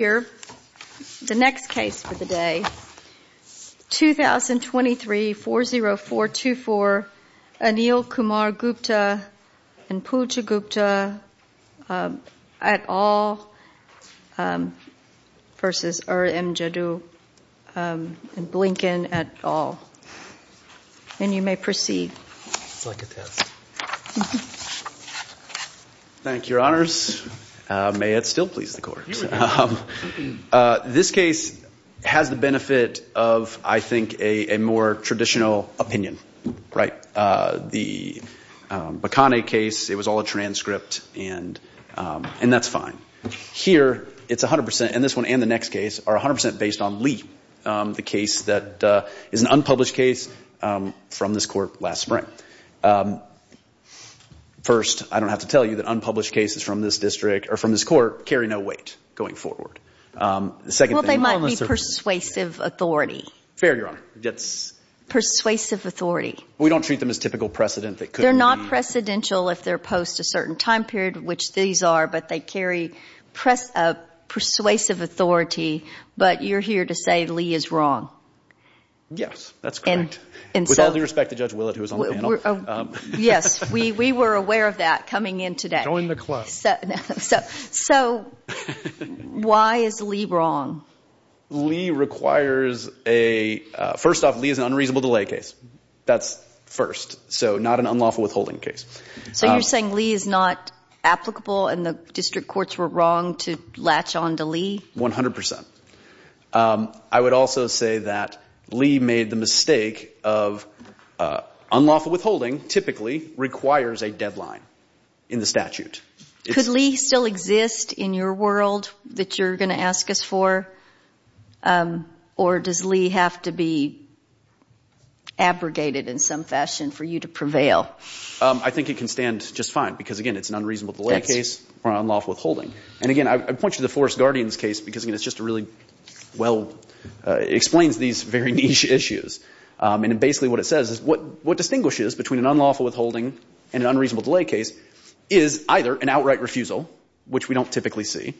The next case for the day, 2023-40424 Anil Kumar Gupta and Pooja Gupta at all versus Ira M. Jaddou and Blinken at all. And you may proceed. Thank you, Your This case has the benefit of, I think, a more traditional opinion, right? The Bakane case, it was all a transcript and that's fine. Here, it's 100%, and this one and the next case, are 100% based on Lee, the case that is an unpublished case from this court last spring. First, I don't have to tell you that unpublished cases from this district or from this court carry no weight going forward. The second thing- Well, they might be persuasive authority. Fair, Your Honor. That's- Persuasive authority. We don't treat them as typical precedent that could be- They're not precedential if they're post a certain time period, which these are, but they carry persuasive authority. But you're here to say Lee is wrong. Yes, that's correct. With all due respect to Judge Willett, who was on the panel. Yes, we were aware of that coming in today. Join the club. So, why is Lee wrong? Lee requires a- First off, Lee is an unreasonable delay case. That's first. So, not an unlawful withholding case. So, you're saying Lee is not applicable and the district courts were wrong to latch on to Lee? 100%. I would also say that Lee made the mistake of unlawful withholding typically requires a deadline in the statute. Could Lee still exist in your world that you're going to ask us for? Or does Lee have to be abrogated in some fashion for you to prevail? I think it can stand just fine because, again, it's an unreasonable delay case or unlawful withholding. And again, I point you to the Forest Guardians case because, again, it's just a really well- it explains these very niche issues. And basically what it says is what distinguishes between an unlawful withholding and an unreasonable delay case is either an outright refusal, which we don't typically see,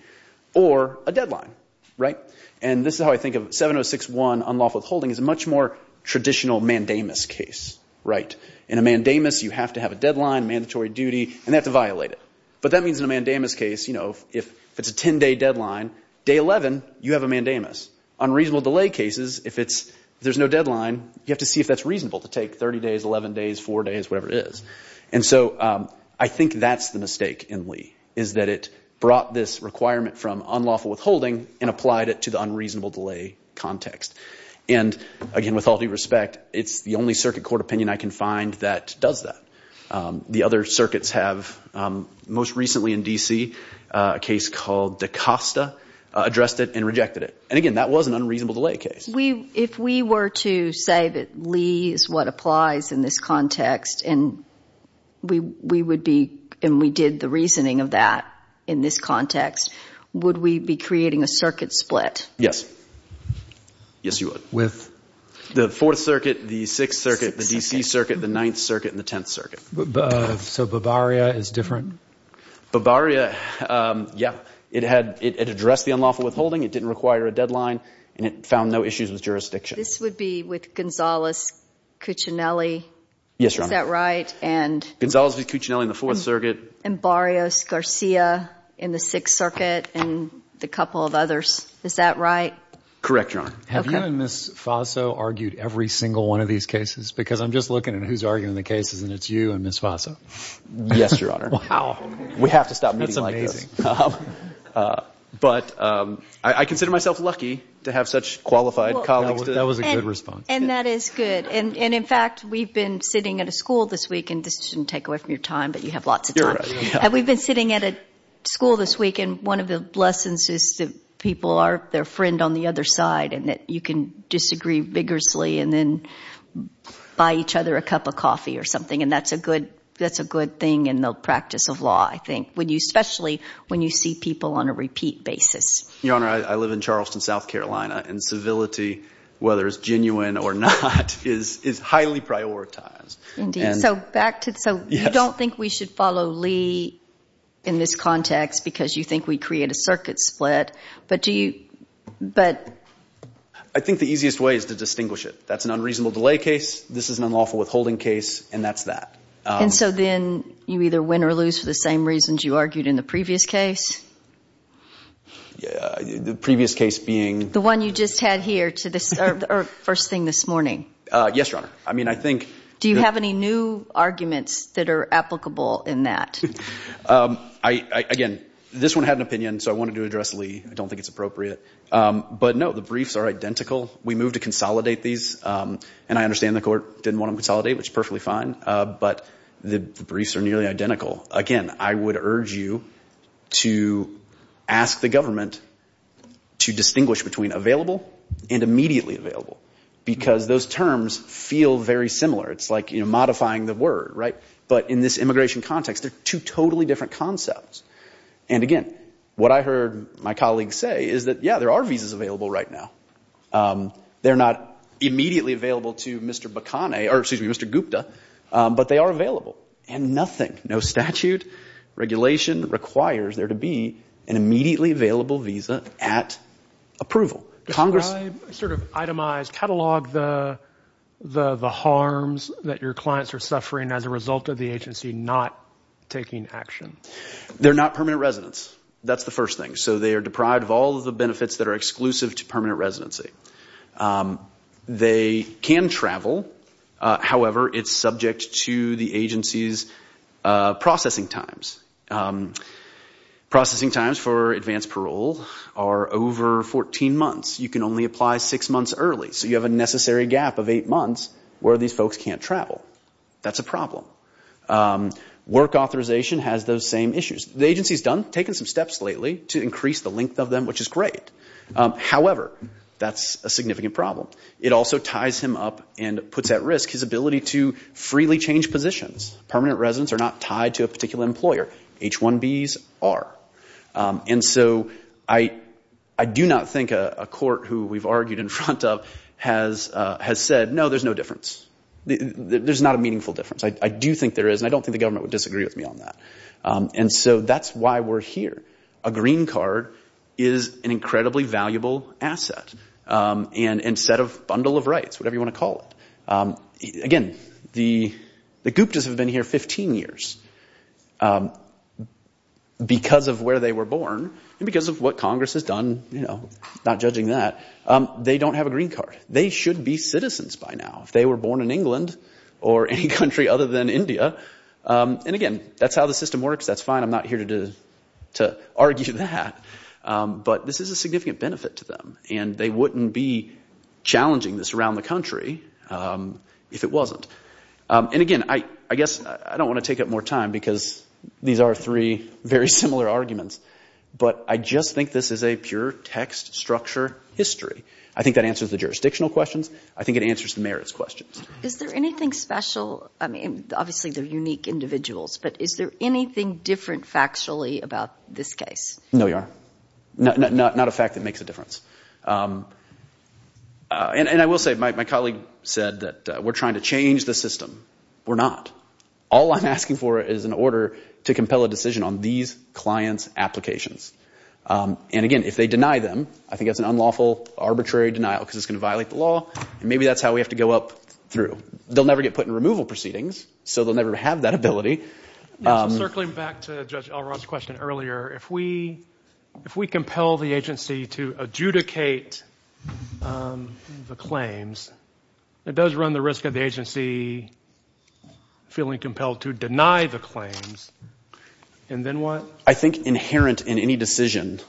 or a deadline, right? And this is how I think of 706-1 unlawful withholding is a much more traditional mandamus case, right? In a mandamus, you have to have a deadline, mandatory duty, and they have to violate it. But that means in a mandamus case, you know, if it's a 10-day deadline, day 11, you have a mandamus. Unreasonable delay cases, if it's- if there's no deadline, you have to see if that's reasonable to take 30 days, 11 days, 4 days, whatever it is. And so I think that's the mistake in Lee, is that it brought this requirement from unlawful withholding and applied it to the unreasonable delay context. And again, with all due respect, it's the only circuit court opinion I can find that does that. The other circuits have, most recently in D.C., a case called Da Costa, addressed it and rejected it. And again, that was an unreasonable delay case. If we were to say that Lee is what applies in this context, and we would be, and we did the reasoning of that in this context, would we be creating a circuit split? Yes. Yes, you would. With? The 4th Circuit, the 6th Circuit, the D.C. Circuit, the 9th Circuit, and the 10th Circuit. So Bavaria is different? Bavaria, yeah, it addressed the unlawful withholding, it didn't require a deadline, and it found no issues with jurisdiction. This would be with Gonzales-Cuccinelli? Yes, Your Honor. Is that right? Gonzales-Cuccinelli in the 4th Circuit. And Barrios-Garcia in the 6th Circuit, and a couple of others. Is that right? Correct, Your Honor. Have you and Ms. Faso argued every single one of these cases? Because I'm just looking at who's arguing the cases, and it's you and Ms. Faso. Yes, Your Honor. We have to stop meeting like this. But I consider myself lucky to have such qualified colleagues. That was a good response. And that is good. And in fact, we've been sitting at a school this week, and this shouldn't take away from your time, but you have lots of time. Have we been sitting at a school this week, and one of the lessons is that people are their friend on the other side, and that you can disagree vigorously and then buy each other a cup of coffee or something, and that's a good thing, in the practice of law, I think, especially when you see people on a repeat basis. Your Honor, I live in Charleston, South Carolina, and civility, whether it's genuine or not, is highly prioritized. Indeed. So you don't think we should follow Lee in this context, because you think we create a circuit split, but do you... I think the easiest way is to distinguish it. That's an unreasonable delay case, this is an unlawful withholding case, and that's that. And so then you either win or lose for the same reasons you argued in the previous case? Yeah, the previous case being... The one you just had here, or first thing this morning. Yes, Your Honor. I mean, I think... Do you have any new arguments that are applicable in that? Again, this one had an opinion, so I wanted to address Lee. I don't think it's appropriate. But no, the briefs are identical. We moved to consolidate these, and I understand the court didn't want them to consolidate, which is perfectly fine, but the briefs are nearly identical. Again, I would urge you to ask the government to distinguish between available and immediately available, because those terms feel very similar. It's like modifying the word, right? But in this immigration context, they're two totally different concepts. And again, what I heard my colleague say is that, yeah, there are visas available right now. They're not immediately available to Mr. Bakane, or excuse me, Mr. Gupta, but they are available. And nothing, no statute, regulation requires there to be an immediately available visa at approval. Describe, sort of itemize, catalog the harms that your clients are suffering as a result of the agency not taking action. They're not permanent residents. That's the first thing. So they are deprived of all of the benefits that are exclusive to permanent residency. They can travel. However, it's subject to the agency's processing times. Processing times for advanced parole are over 14 months. You can only apply six months early. So you have a necessary gap of eight months where these folks can't travel. That's a problem. Work authorization has those same issues. The agency's done, taken some steps lately to increase the length of them, which is great. However, that's a significant problem. It also ties him up and puts at risk his ability to freely change positions. Permanent residents are not tied to a particular employer. H-1Bs are. And so I do not think a court who we've argued in front of has said, no, there's no difference. There's not a meaningful difference. I do think there is, and I don't think the government would disagree with me on that. And so that's why we're here. A green card is an incredibly valuable asset and set of bundle of rights, whatever you want to call it. Again, the Guptas have been here 15 years because of where they were born and because of what Congress has done, not judging that. They don't have a green card. They should be citizens by now if they were born in England or any country other than India. And again, that's how the system works. That's fine. I'm not here to argue that. But this is a significant benefit to them, and they wouldn't be challenging this around the country if it wasn't. And again, I guess I don't want to take up more time because these are three very similar arguments. But I just think this is a pure text structure history. I think that answers the jurisdictional questions. I think it answers the merits questions. Is there anything special? I mean, obviously, they're unique individuals. But is there anything different factually about this case? No, not a fact that makes a difference. And I will say, my colleague said that we're trying to change the system. We're not. All I'm asking for is an order to compel a decision on these clients' applications. And again, if they deny them, I think that's an unlawful, arbitrary denial because it's going to violate the law. And maybe that's how we have to go up through. They'll never get put in removal proceedings, so they'll never have that ability. Circling back to Judge Alron's question earlier, if we compel the agency to adjudicate the claims, it does run the risk of the agency feeling compelled to deny the claims. And then what? I think inherent in any decision,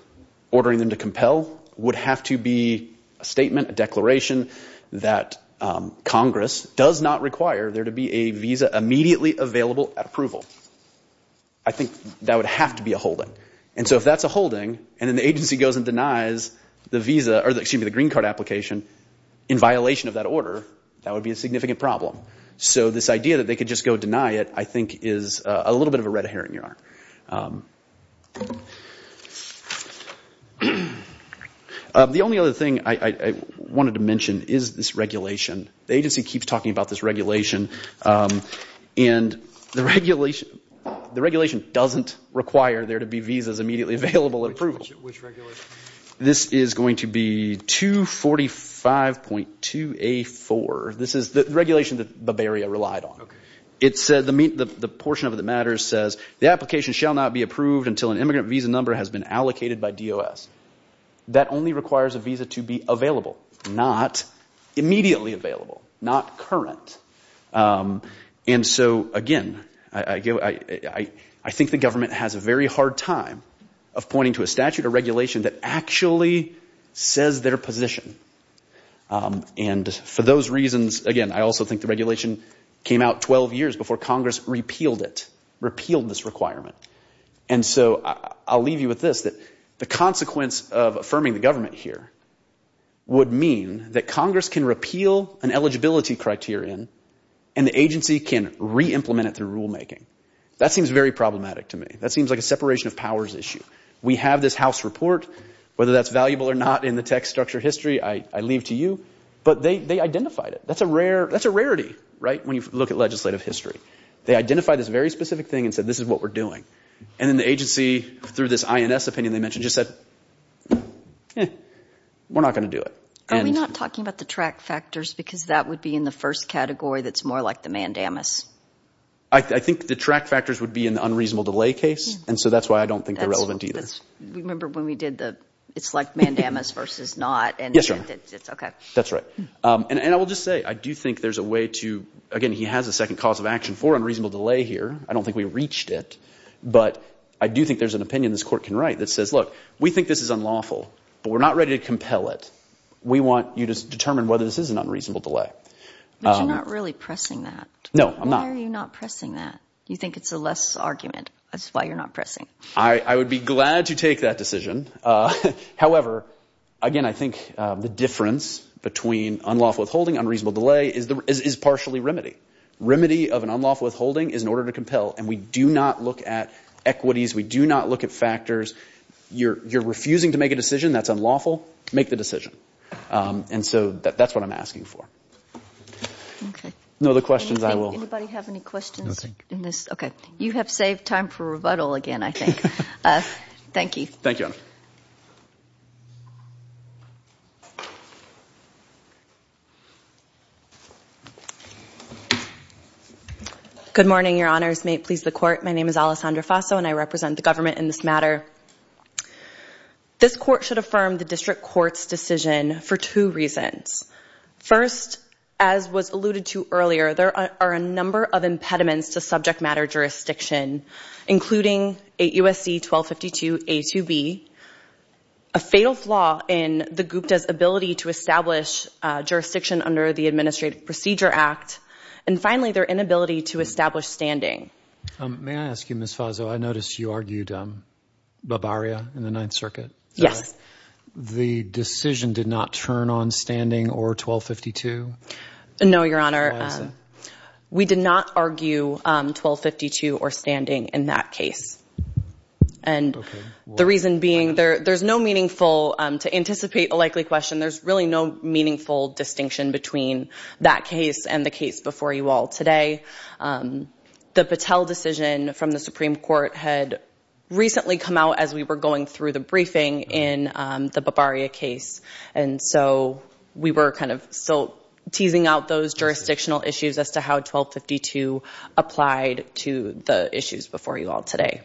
ordering them to compel would have to be a statement, a declaration, that Congress does not require there to be a visa immediately available at approval. I think that would have to be a holding. And so if that's a holding, and then the agency goes and denies the visa, or excuse me, the green card application in violation of that order, that would be a significant problem. So this idea that they could just go deny it, I think is a little bit of a red herring in your arm. The only other thing I wanted to mention is this regulation. The agency keeps talking about this regulation. And the regulation doesn't require there to be visas immediately available at approval. Which regulation? This is going to be 245.2A4. This is the regulation that Bavaria relied on. It said, the portion of it that matters says, the application shall not be approved until an immigrant visa number has been allocated by DOS. That only requires a visa to be available, not immediately available, not current. And so again, I think the government has a very hard time of pointing to a statute or regulation that actually says their position. And for those reasons, again, I also think the regulation came out 12 years before Congress repealed it, repealed this requirement. And so I'll leave you with this, that the consequence of affirming the government here would mean that Congress can repeal an eligibility criterion and the agency can re-implement it through rulemaking. That seems very problematic to me. That seems like a separation of powers issue. We have this House report. Whether that's valuable or not in the tech structure history, I leave to you. But they identified it. That's a rarity, right, when you look at legislative history. They identified this very specific thing and said, this is what we're doing. And then the agency, through this INS opinion they mentioned, just said, we're not going to do it. Are we not talking about the track factors? Because that would be in the first category that's more like the mandamus. I think the track factors would be in the unreasonable delay case. And so that's why I don't think they're relevant either. Remember when we did the, it's like mandamus versus not. Yes, Your Honor. That's right. And I will just say, I do think there's a way to, again, he has a second cause of action for unreasonable delay here. I don't think we reached it. But I do think there's an opinion this court can write that says, look, we think this is unlawful, but we're not ready to compel it. We want you to determine whether this is an unreasonable delay. But you're not really pressing that. No, I'm not. Why are you not pressing that? You think it's a less argument. That's why you're not pressing. I would be glad to take that decision. However, again, I think the difference between unlawful withholding, unreasonable delay is partially remedy. Remedy of an unlawful withholding is in order to compel. And we do not look at equities. We do not look at factors. You're refusing to make a decision that's unlawful. Make the decision. And so that's what I'm asking for. Okay. No other questions, I will. Anybody have any questions in this? Okay. You have saved time for rebuttal again, I think. Thank you. Thank you. Good morning, your honors. May it please the court. My name is Alessandra Faso, and I represent the government in this matter. This court should affirm the district court's decision for two reasons. First, as was alluded to earlier, there are a number of impediments to subject matter jurisdiction, including AUSC-1252-A2B, a fatal flaw in the Gupta's ability to establish jurisdiction under the Administrative Procedure Act, and finally, their inability to establish standing. May I ask you, Ms. Faso? I noticed you argued Barbaria in the Ninth Circuit. Yes. The decision did not turn on standing or 1252? No, your honor. We did not argue 1252 or standing in that case. And the reason being, there's no meaningful, to anticipate a likely question, there's really no meaningful distinction between that case and the case before you all today. The Patel decision from the Supreme Court had recently come out as we were going through the briefing in the Barbaria case, and so we were kind of still teasing out those jurisdictional issues as to how 1252 applied to the issues before you all today.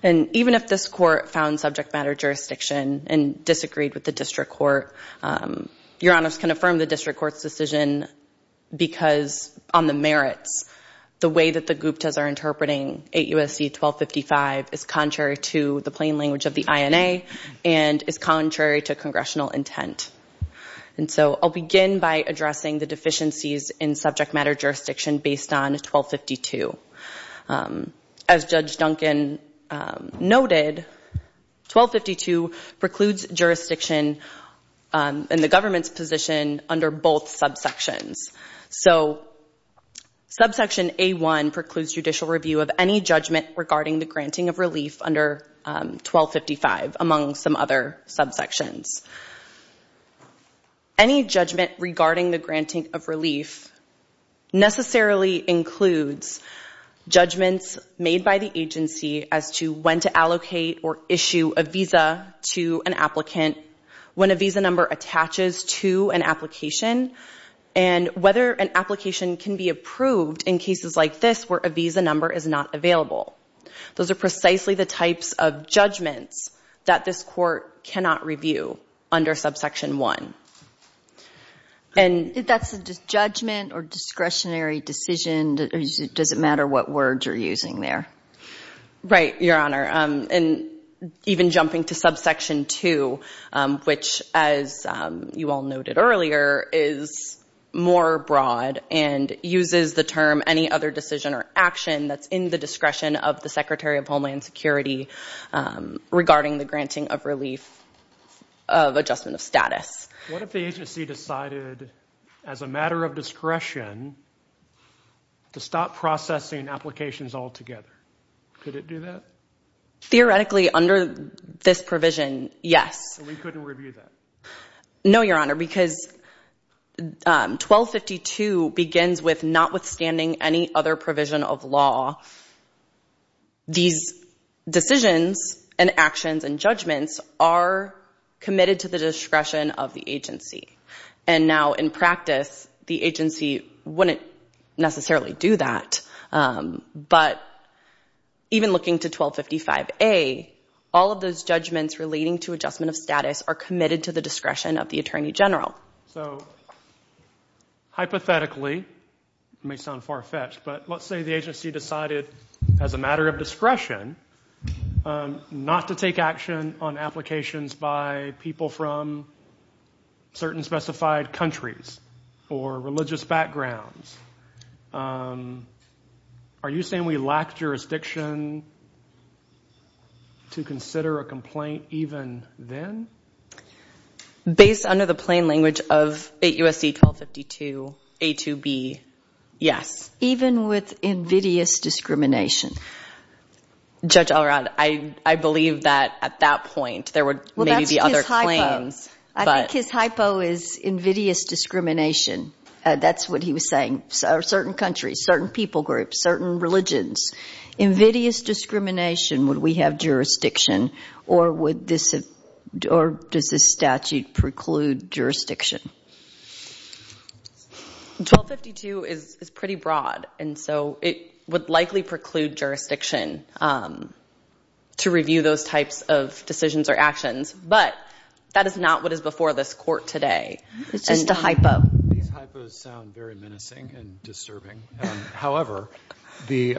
And even if this court found subject matter jurisdiction and disagreed with the district court, your honors can affirm the district court's decision because on the merits, the way that the Guptas are interpreting 8 U.S.C. 1255 is contrary to the plain language of the INA and is contrary to congressional intent. And so I'll begin by addressing the deficiencies in subject matter jurisdiction based on 1252. As Judge Duncan noted, 1252 precludes jurisdiction in the government's position under both subsections. So subsection A1 precludes judicial review of any judgment regarding the granting of relief under 1255, among some other subsections. Any judgment regarding the granting of relief necessarily includes judgments made by the agency as to when to allocate or issue a visa to an applicant, when a visa number attaches to an application, and whether an application can be approved in cases like this where a visa number is not available. Those are precisely the types of judgments that this court cannot review. Under subsection 1. And that's a judgment or discretionary decision? Does it matter what words you're using there? Right, your honor. And even jumping to subsection 2, which, as you all noted earlier, is more broad and uses the term any other decision or action that's in the discretion of the Secretary of Homeland Security regarding the granting of relief of adjustment of status. What if the agency decided, as a matter of discretion, to stop processing applications altogether? Could it do that? Theoretically, under this provision, yes. We couldn't review that? No, your honor, because 1252 begins with notwithstanding any other provision of law, these decisions and actions and judgments are committed to the discretion of the agency. And now, in practice, the agency wouldn't necessarily do that. But even looking to 1255A, all of those judgments relating to adjustment of status are committed to the discretion of the Attorney General. So, hypothetically, it may sound far-fetched, but let's say the agency decided, as a matter of discretion, not to take action on applications by people from certain specified countries or religious backgrounds. Are you saying we lack jurisdiction to consider a complaint even then? Based under the plain language of 8 U.S.C. 1252, A to B, yes. Even with invidious discrimination? Judge Alrod, I believe that, at that point, there would maybe be other claims. I think his hypo is invidious discrimination. That's what he was saying. Certain countries, certain people groups, certain religions. Invidious discrimination, would we have jurisdiction? Or does this statute preclude jurisdiction? 1252 is pretty broad, and so it would likely preclude jurisdiction to review those types of decisions or actions. But that is not what is before this Court today. It's just a hypo. These hypos sound very menacing and disturbing. However, the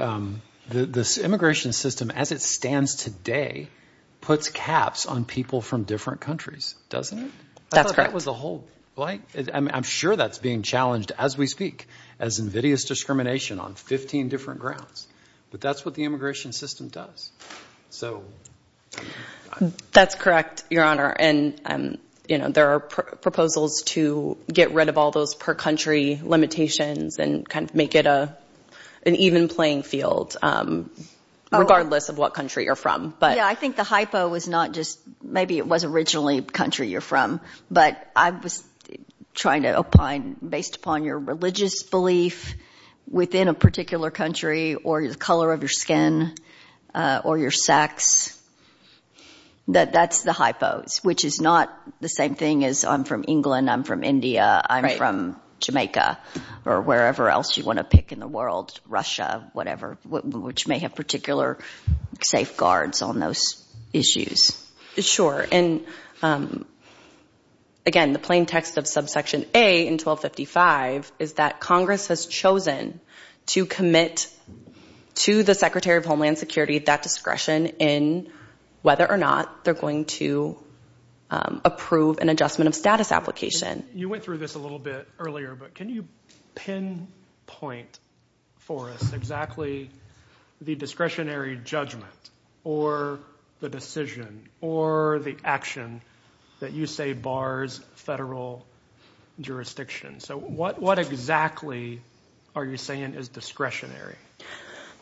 immigration system, as it stands today, puts caps on people from different countries, doesn't it? That's correct. I'm sure that's being challenged as we speak, as invidious discrimination on 15 different grounds. But that's what the immigration system does. That's correct, Your Honor. There are proposals to get rid of all those per country limitations and kind of make it an even playing field, regardless of what country you're from. Yeah, I think the hypo was not just, maybe it was originally a country you're from, but I was trying to opine based upon your religious belief within a particular country or the color of your skin or your sex. That's the hypos, which is not the same thing as I'm from England, I'm from India, I'm from Jamaica, or wherever else you want to pick in the world, Russia, whatever, which may have particular safeguards on those issues. Sure. Again, the plain text of subsection A in 1255 is that Congress has chosen to commit to the Secretary of Homeland Security that discretion in whether or not they're going to approve an adjustment of status application. You went through this a little bit earlier, but can you pinpoint for us exactly the discretionary judgment or the decision or the action that you say bars federal jurisdiction? So what exactly are you saying is discretionary?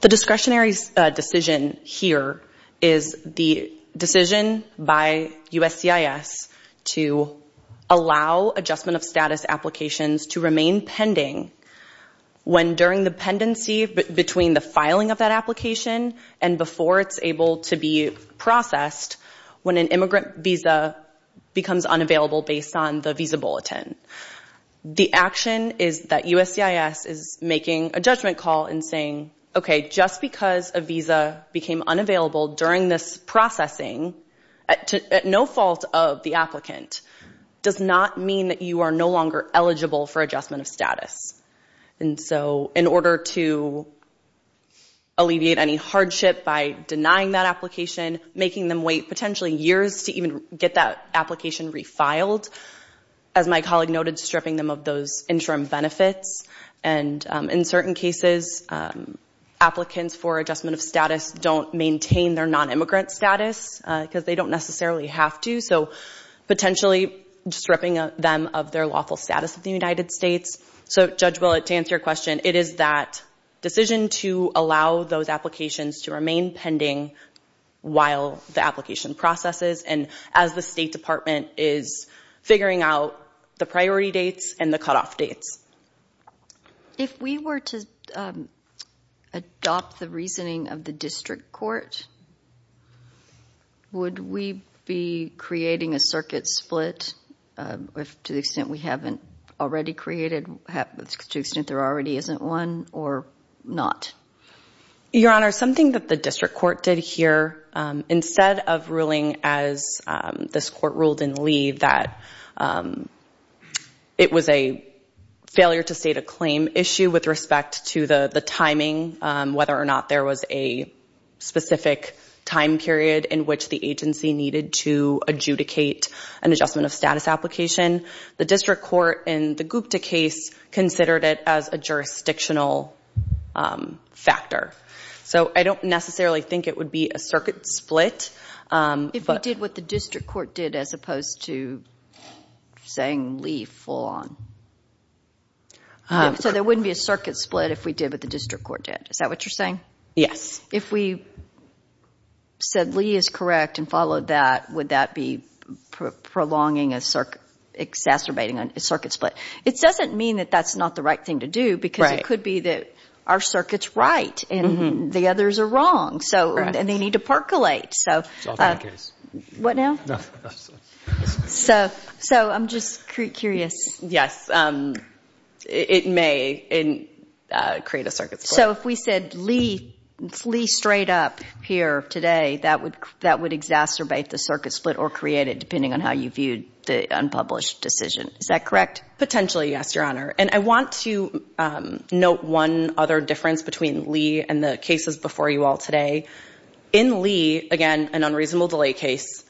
The discretionary decision here is the decision by USCIS to allow adjustment of status applications to remain pending when during the pendency between the filing of that application and before it's able to be processed, when an immigrant visa becomes unavailable based on the visa bulletin. The action is that USCIS is making a judgment call and saying, okay, just because a visa became unavailable during this processing at no fault of the applicant does not mean that you are no longer eligible for adjustment of status. And so in order to alleviate any hardship by denying that application, making them wait potentially years to even get that application refiled, as my colleague noted, stripping them of those interim benefits. And in certain cases, applicants for adjustment of status don't maintain their non-immigrant status because they don't necessarily have to. So potentially stripping them of their lawful status of the United States. So Judge Willett, to answer your question, it is that decision to allow those applications to remain pending while the application processes and as the State Department is figuring out the priority dates and the cutoff dates. If we were to adopt the reasoning of the District Court, would we be creating a circuit split to the extent we haven't already created, to the extent there already isn't one or not? Your Honor, something that the District Court did here, instead of ruling as this court ruled in Lee that it was a failure to state a claim issue with respect to the timing, whether or not there was a specific time period in which the agency needed to adjudicate an adjustment of status application, the District Court in the Gupta case considered it as a factor. So I don't necessarily think it would be a circuit split. If we did what the District Court did as opposed to saying Lee full on. So there wouldn't be a circuit split if we did what the District Court did. Is that what you're saying? Yes. If we said Lee is correct and followed that, would that be prolonging a circuit, exacerbating a circuit split? It doesn't mean that that's not the right thing to do because it could be that our circuit's right and the others are wrong and they need to percolate. It's all the same case. What now? So I'm just curious. Yes. It may create a circuit split. So if we said Lee straight up here today, that would exacerbate the circuit split or create it depending on how you viewed the unpublished decision. Is that correct? Potentially, yes, Your Honor. And I want to note one other difference between Lee and the cases before you all today. In Lee, again, an unreasonable delay case,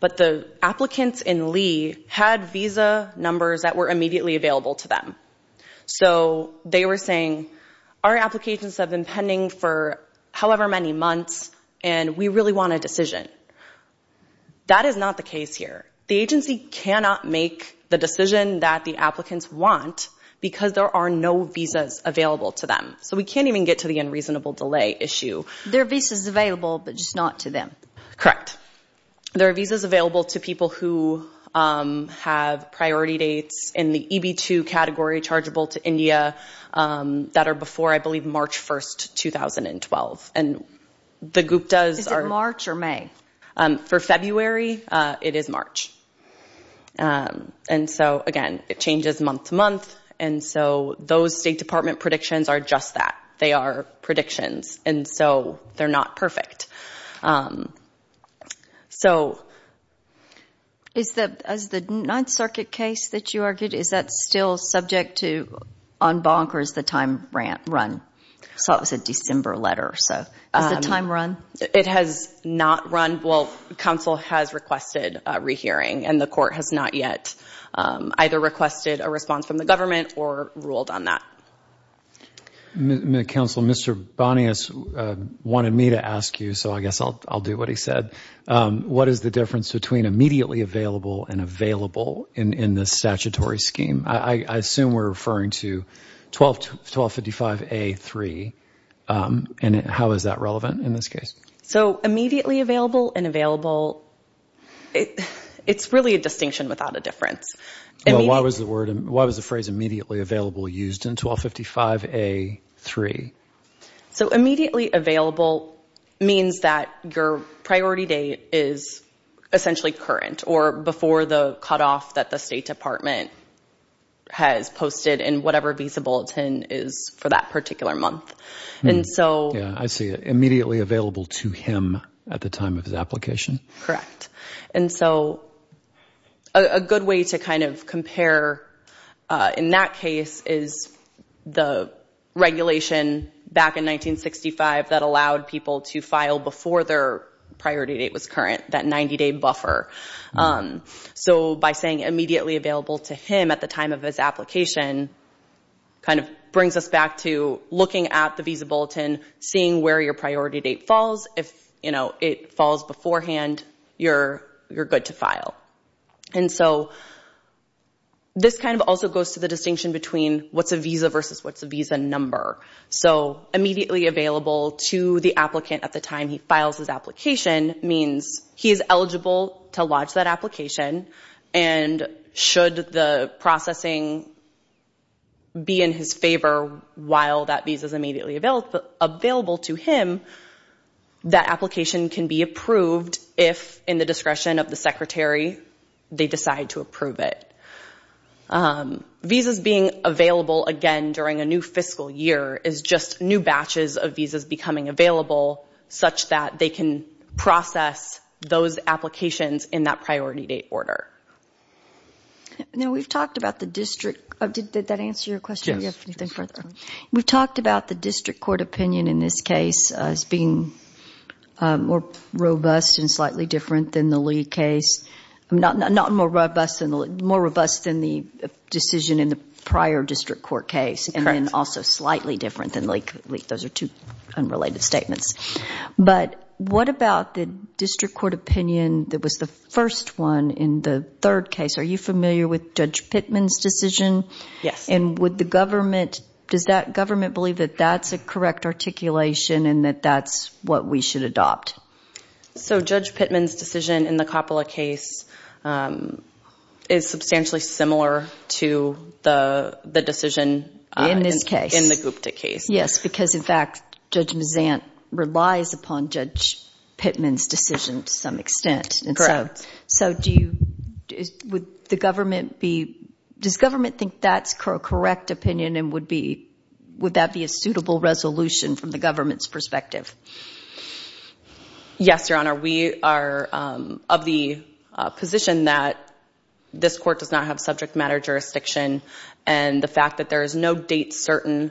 but the applicants in Lee had visa numbers that were immediately available to them. So they were saying, our applications have been pending for however many months and we really want a decision. That is not the case here. The agency cannot make the decision that the applicants want because there are no visas available to them. So we can't even get to the unreasonable delay issue. There are visas available, but just not to them. Correct. There are visas available to people who have priority dates in the EB2 category, chargeable to India, that are before, I believe, March 1st, 2012. And the group does... Is it March or May? For February, it is March. And so, again, it changes month to month. And so those State Department predictions are just that. They are predictions. And so they're not perfect. So... Is the Ninth Circuit case that you argued, is that still subject to en banc or is the time run? I saw it was a December letter, so... Is the time run? It has not run. Well, counsel has requested a rehearing and the court has not yet either requested a response from the government or ruled on that. Counsel, Mr. Bonias wanted me to ask you, so I guess I'll do what he said. What is the difference between immediately available and available in the statutory scheme? I assume we're referring to 1255A3. And how is that relevant in this case? Immediately available and available, it's really a distinction without a difference. Why was the phrase immediately available used in 1255A3? Immediately available means that your priority date is essentially current or before the cutoff that the State Department has posted in whatever visa bulletin is for that particular month. And so... Yeah, I see it. Immediately available to him at the time of his application? Correct. And so a good way to kind of compare in that case is the regulation back in 1965 that allowed people to file before their priority date was current, that 90-day buffer. So by saying immediately available to him at the time of his application kind of brings us back to looking at the visa bulletin, seeing where your priority date falls. If it falls beforehand, you're good to file. And so this kind of also goes to the distinction between what's a visa versus what's a visa number. So immediately available to the applicant at the time he files his application means he is eligible to lodge that application. And should the processing be in his favor while that visa is immediately available to him, that application can be approved if, in the discretion of the Secretary, they decide to approve it. Visas being available again during a new fiscal year is just new batches of visas becoming available such that they can process those applications in that priority date order. Now, we've talked about the district. Did that answer your question? Do you have anything further? We've talked about the district court opinion in this case as being more robust and slightly different than the Lee case. Not more robust than the decision in the prior district court case and then also slightly different than Lee. Those are two unrelated statements. But what about the district court opinion that was the first one in the third case? Are you familiar with Judge Pittman's decision? Yes. And would the government, does that government believe that that's a correct articulation and that that's what we should adopt? So Judge Pittman's decision in the Coppola case is substantially similar to the decision in the Gupta case. Yes, because in fact, Judge Mazant relies upon Judge Pittman's decision to some extent. Correct. So do you, would the government be, does government think that's a correct opinion and would that be a suitable resolution from the government's perspective? Yes, Your Honor. We are of the position that this court does not have subject matter jurisdiction and the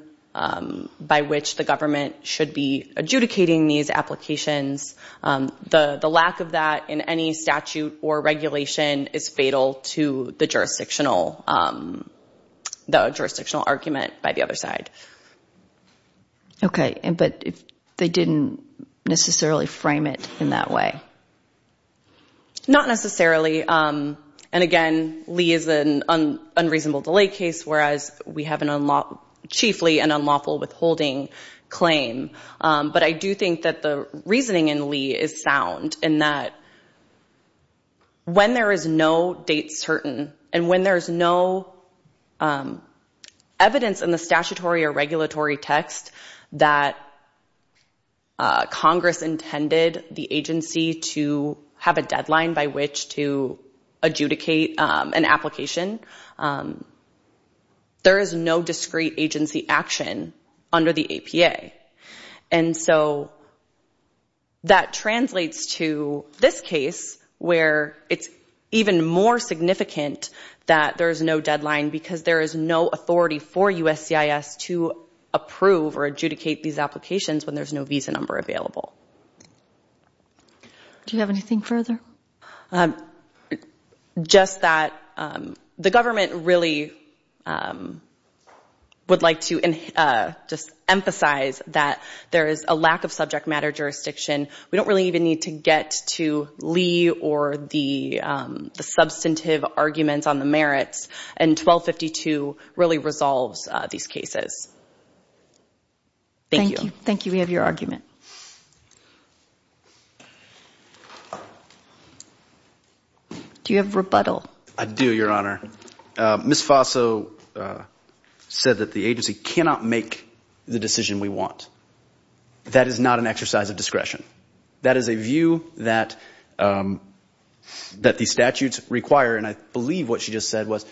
by which the government should be adjudicating these applications. The lack of that in any statute or regulation is fatal to the jurisdictional argument by the other side. Okay. But they didn't necessarily frame it in that way? Not necessarily. And again, Lee is an unreasonable delay case, whereas we have chiefly an unlawful withholding claim. But I do think that the reasoning in Lee is sound in that when there is no date certain and when there's no evidence in the statutory or regulatory text that Congress intended the agency to have a deadline by which to adjudicate an application, there is no discrete agency action under the APA. And so that translates to this case where it's even more significant that there's no deadline because there is no authority for USCIS to approve or adjudicate these applications when there's no visa number available. Do you have anything further? Just that the government really would like to just emphasize that there is a lack of subject matter jurisdiction. We don't really even need to get to Lee or the substantive arguments on the merits. And 1252 really resolves these cases. Thank you. Thank you. We have your argument. Do you have rebuttal? I do, Your Honor. Ms. Faso said that the agency cannot make the decision we want. That is not an exercise of discretion. That is a view that the statutes require. And I believe what she just said was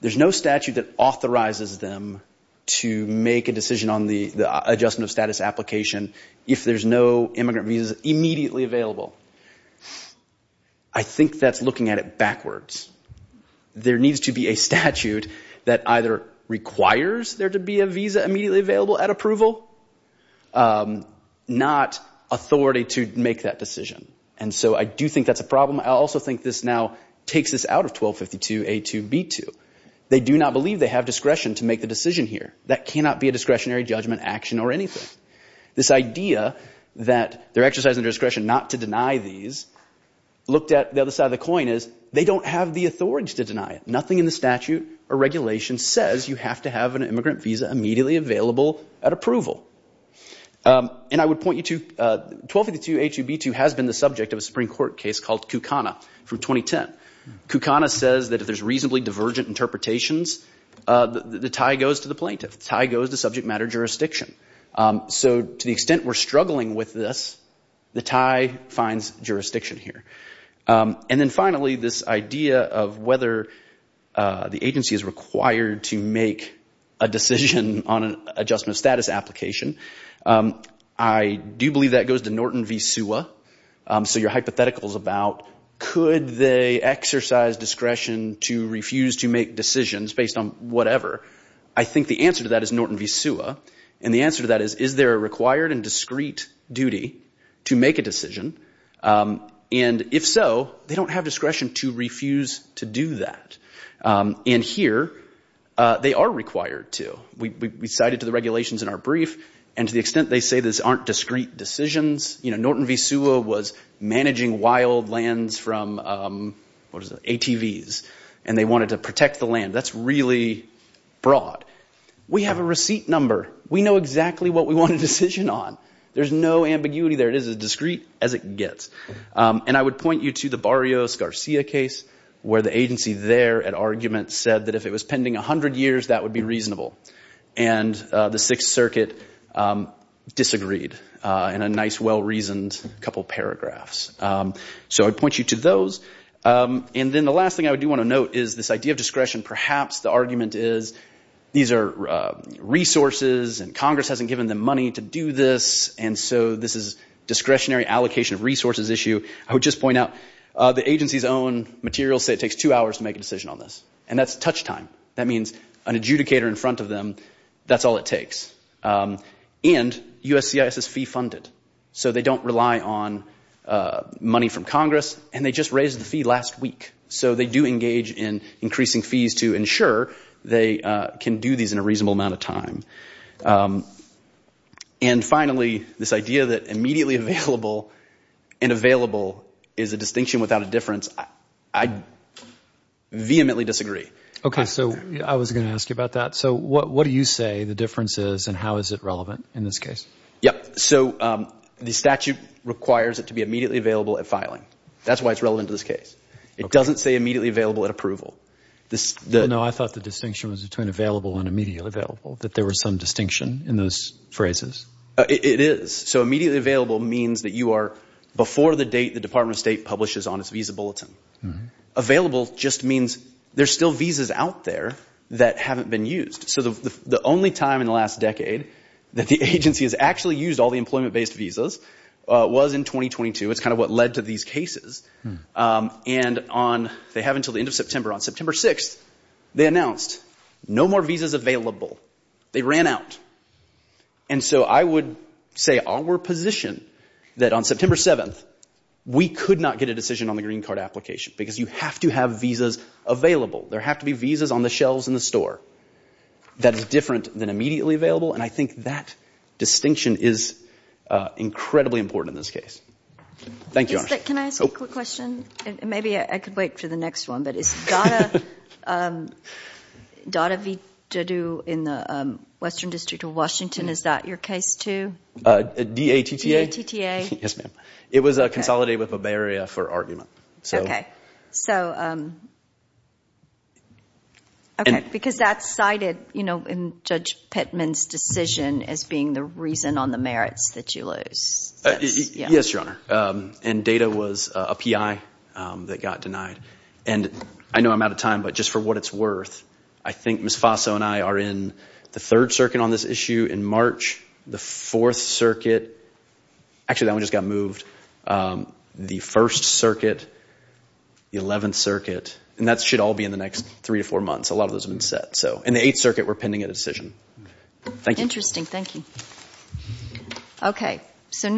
there's no statute that authorizes them to make a decision on the adjustment of status application if there's no immigrant visas immediately available. I think that's looking at it backwards. There needs to be a statute that either requires there to be a visa immediately available at approval, not authority to make that decision. And so I do think that's a problem. I also think this now takes us out of 1252A2B2. They do not believe they have discretion to make the decision here. That cannot be a discretionary judgment action or anything. This idea that they're exercising discretion not to deny these, looked at the other side of the coin is they don't have the authority to deny it. Nothing in the statute or regulation says you have to have an immigrant visa immediately available at approval. And I would point you to 1252A2B2 has been the subject of a Supreme Court case called Kucana from 2010. Kucana says that if there's reasonably divergent interpretations, the tie goes to the plaintiff. The tie goes to subject matter jurisdiction. So to the extent we're struggling with this, the tie finds jurisdiction here. And then finally, this idea of whether the agency is required to make a decision on an adjustment of status application, I do believe that goes to Norton v. Suwa. So your hypothetical is about could they exercise discretion to refuse to make decisions based on whatever. I think the answer to that is Norton v. Suwa. And the answer to that is, is there a required and discrete duty to make a decision? And if so, they don't have discretion to refuse to do that. And here, they are required to. We cited to the regulations in our brief. And to the extent they say this aren't discrete decisions, you know, Norton v. Suwa was managing wild lands from, what is it, ATVs. And they wanted to protect the land. That's really broad. We have a receipt number. We know exactly what we want a decision on. There's no ambiguity there. It is as discrete as it gets. And I would point you to the Barrios-Garcia case where the agency there at argument said that if it was pending 100 years, that would be reasonable. And the Sixth Circuit disagreed in a nice, well-reasoned couple paragraphs. So I'd point you to those. And then the last thing I do want to note is this idea of discretion. Perhaps the argument is these are resources, and Congress hasn't given them money to do this. And so this is discretionary allocation of resources issue. I would just point out the agency's own materials say it takes two hours to make a decision on this. And that's touch time. That means an adjudicator in front of them, that's all it takes. And USCIS is fee-funded. So they don't rely on money from Congress. And they just raised the fee last week. So they do engage in increasing fees to ensure they can do these in a reasonable amount of time. And finally, this idea that immediately available and available is a distinction without a difference, I vehemently disagree. Okay. So I was going to ask you about that. So what do you say the difference is and how is it relevant in this case? Yep. So the statute requires it to be immediately available at filing. That's why it's relevant to this case. It doesn't say immediately available at approval. No, I thought the distinction was between available and immediately available, that there was some distinction in those phrases. It is. So immediately available means that you are before the date the Department of State publishes on its visa bulletin. Available just means there's still visas out there that haven't been used. So the only time in the last decade that the agency has actually used all the employment-based visas was in 2022. It's kind of what led to these cases. And they have until the end of September. On September 6th, they announced no more visas available. They ran out. And so I would say our position that on September 7th, we could not get a decision on the green card application because you have to have visas available. There have to be visas on the shelves in the store that is different than immediately available. And I think that distinction is incredibly important in this case. Thank you, Arshad. Can I ask a quick question? Maybe I could wait for the next one. But is Dada Vidadu in the Western District of Washington, is that your case too? D-A-T-T-A. Yes, ma'am. It was a consolidate with Bavaria for argument. Okay. So, okay. Because that's cited, you know, in Judge Pittman's decision as being the reason on the merits that you lose. Yes, Your Honor. And Dada was a P.I. that got denied. And I know I'm out of time, but just for what it's worth, I think Ms. Faso and I are in the Third Circuit on this issue. In March, the Fourth Circuit. Actually, that one just got moved. The First Circuit, the Eleventh Circuit. And that should all be in the next three to four months. A lot of those have been set. So in the Eighth Circuit, we're pending a decision. Interesting. Thank you. Okay. So.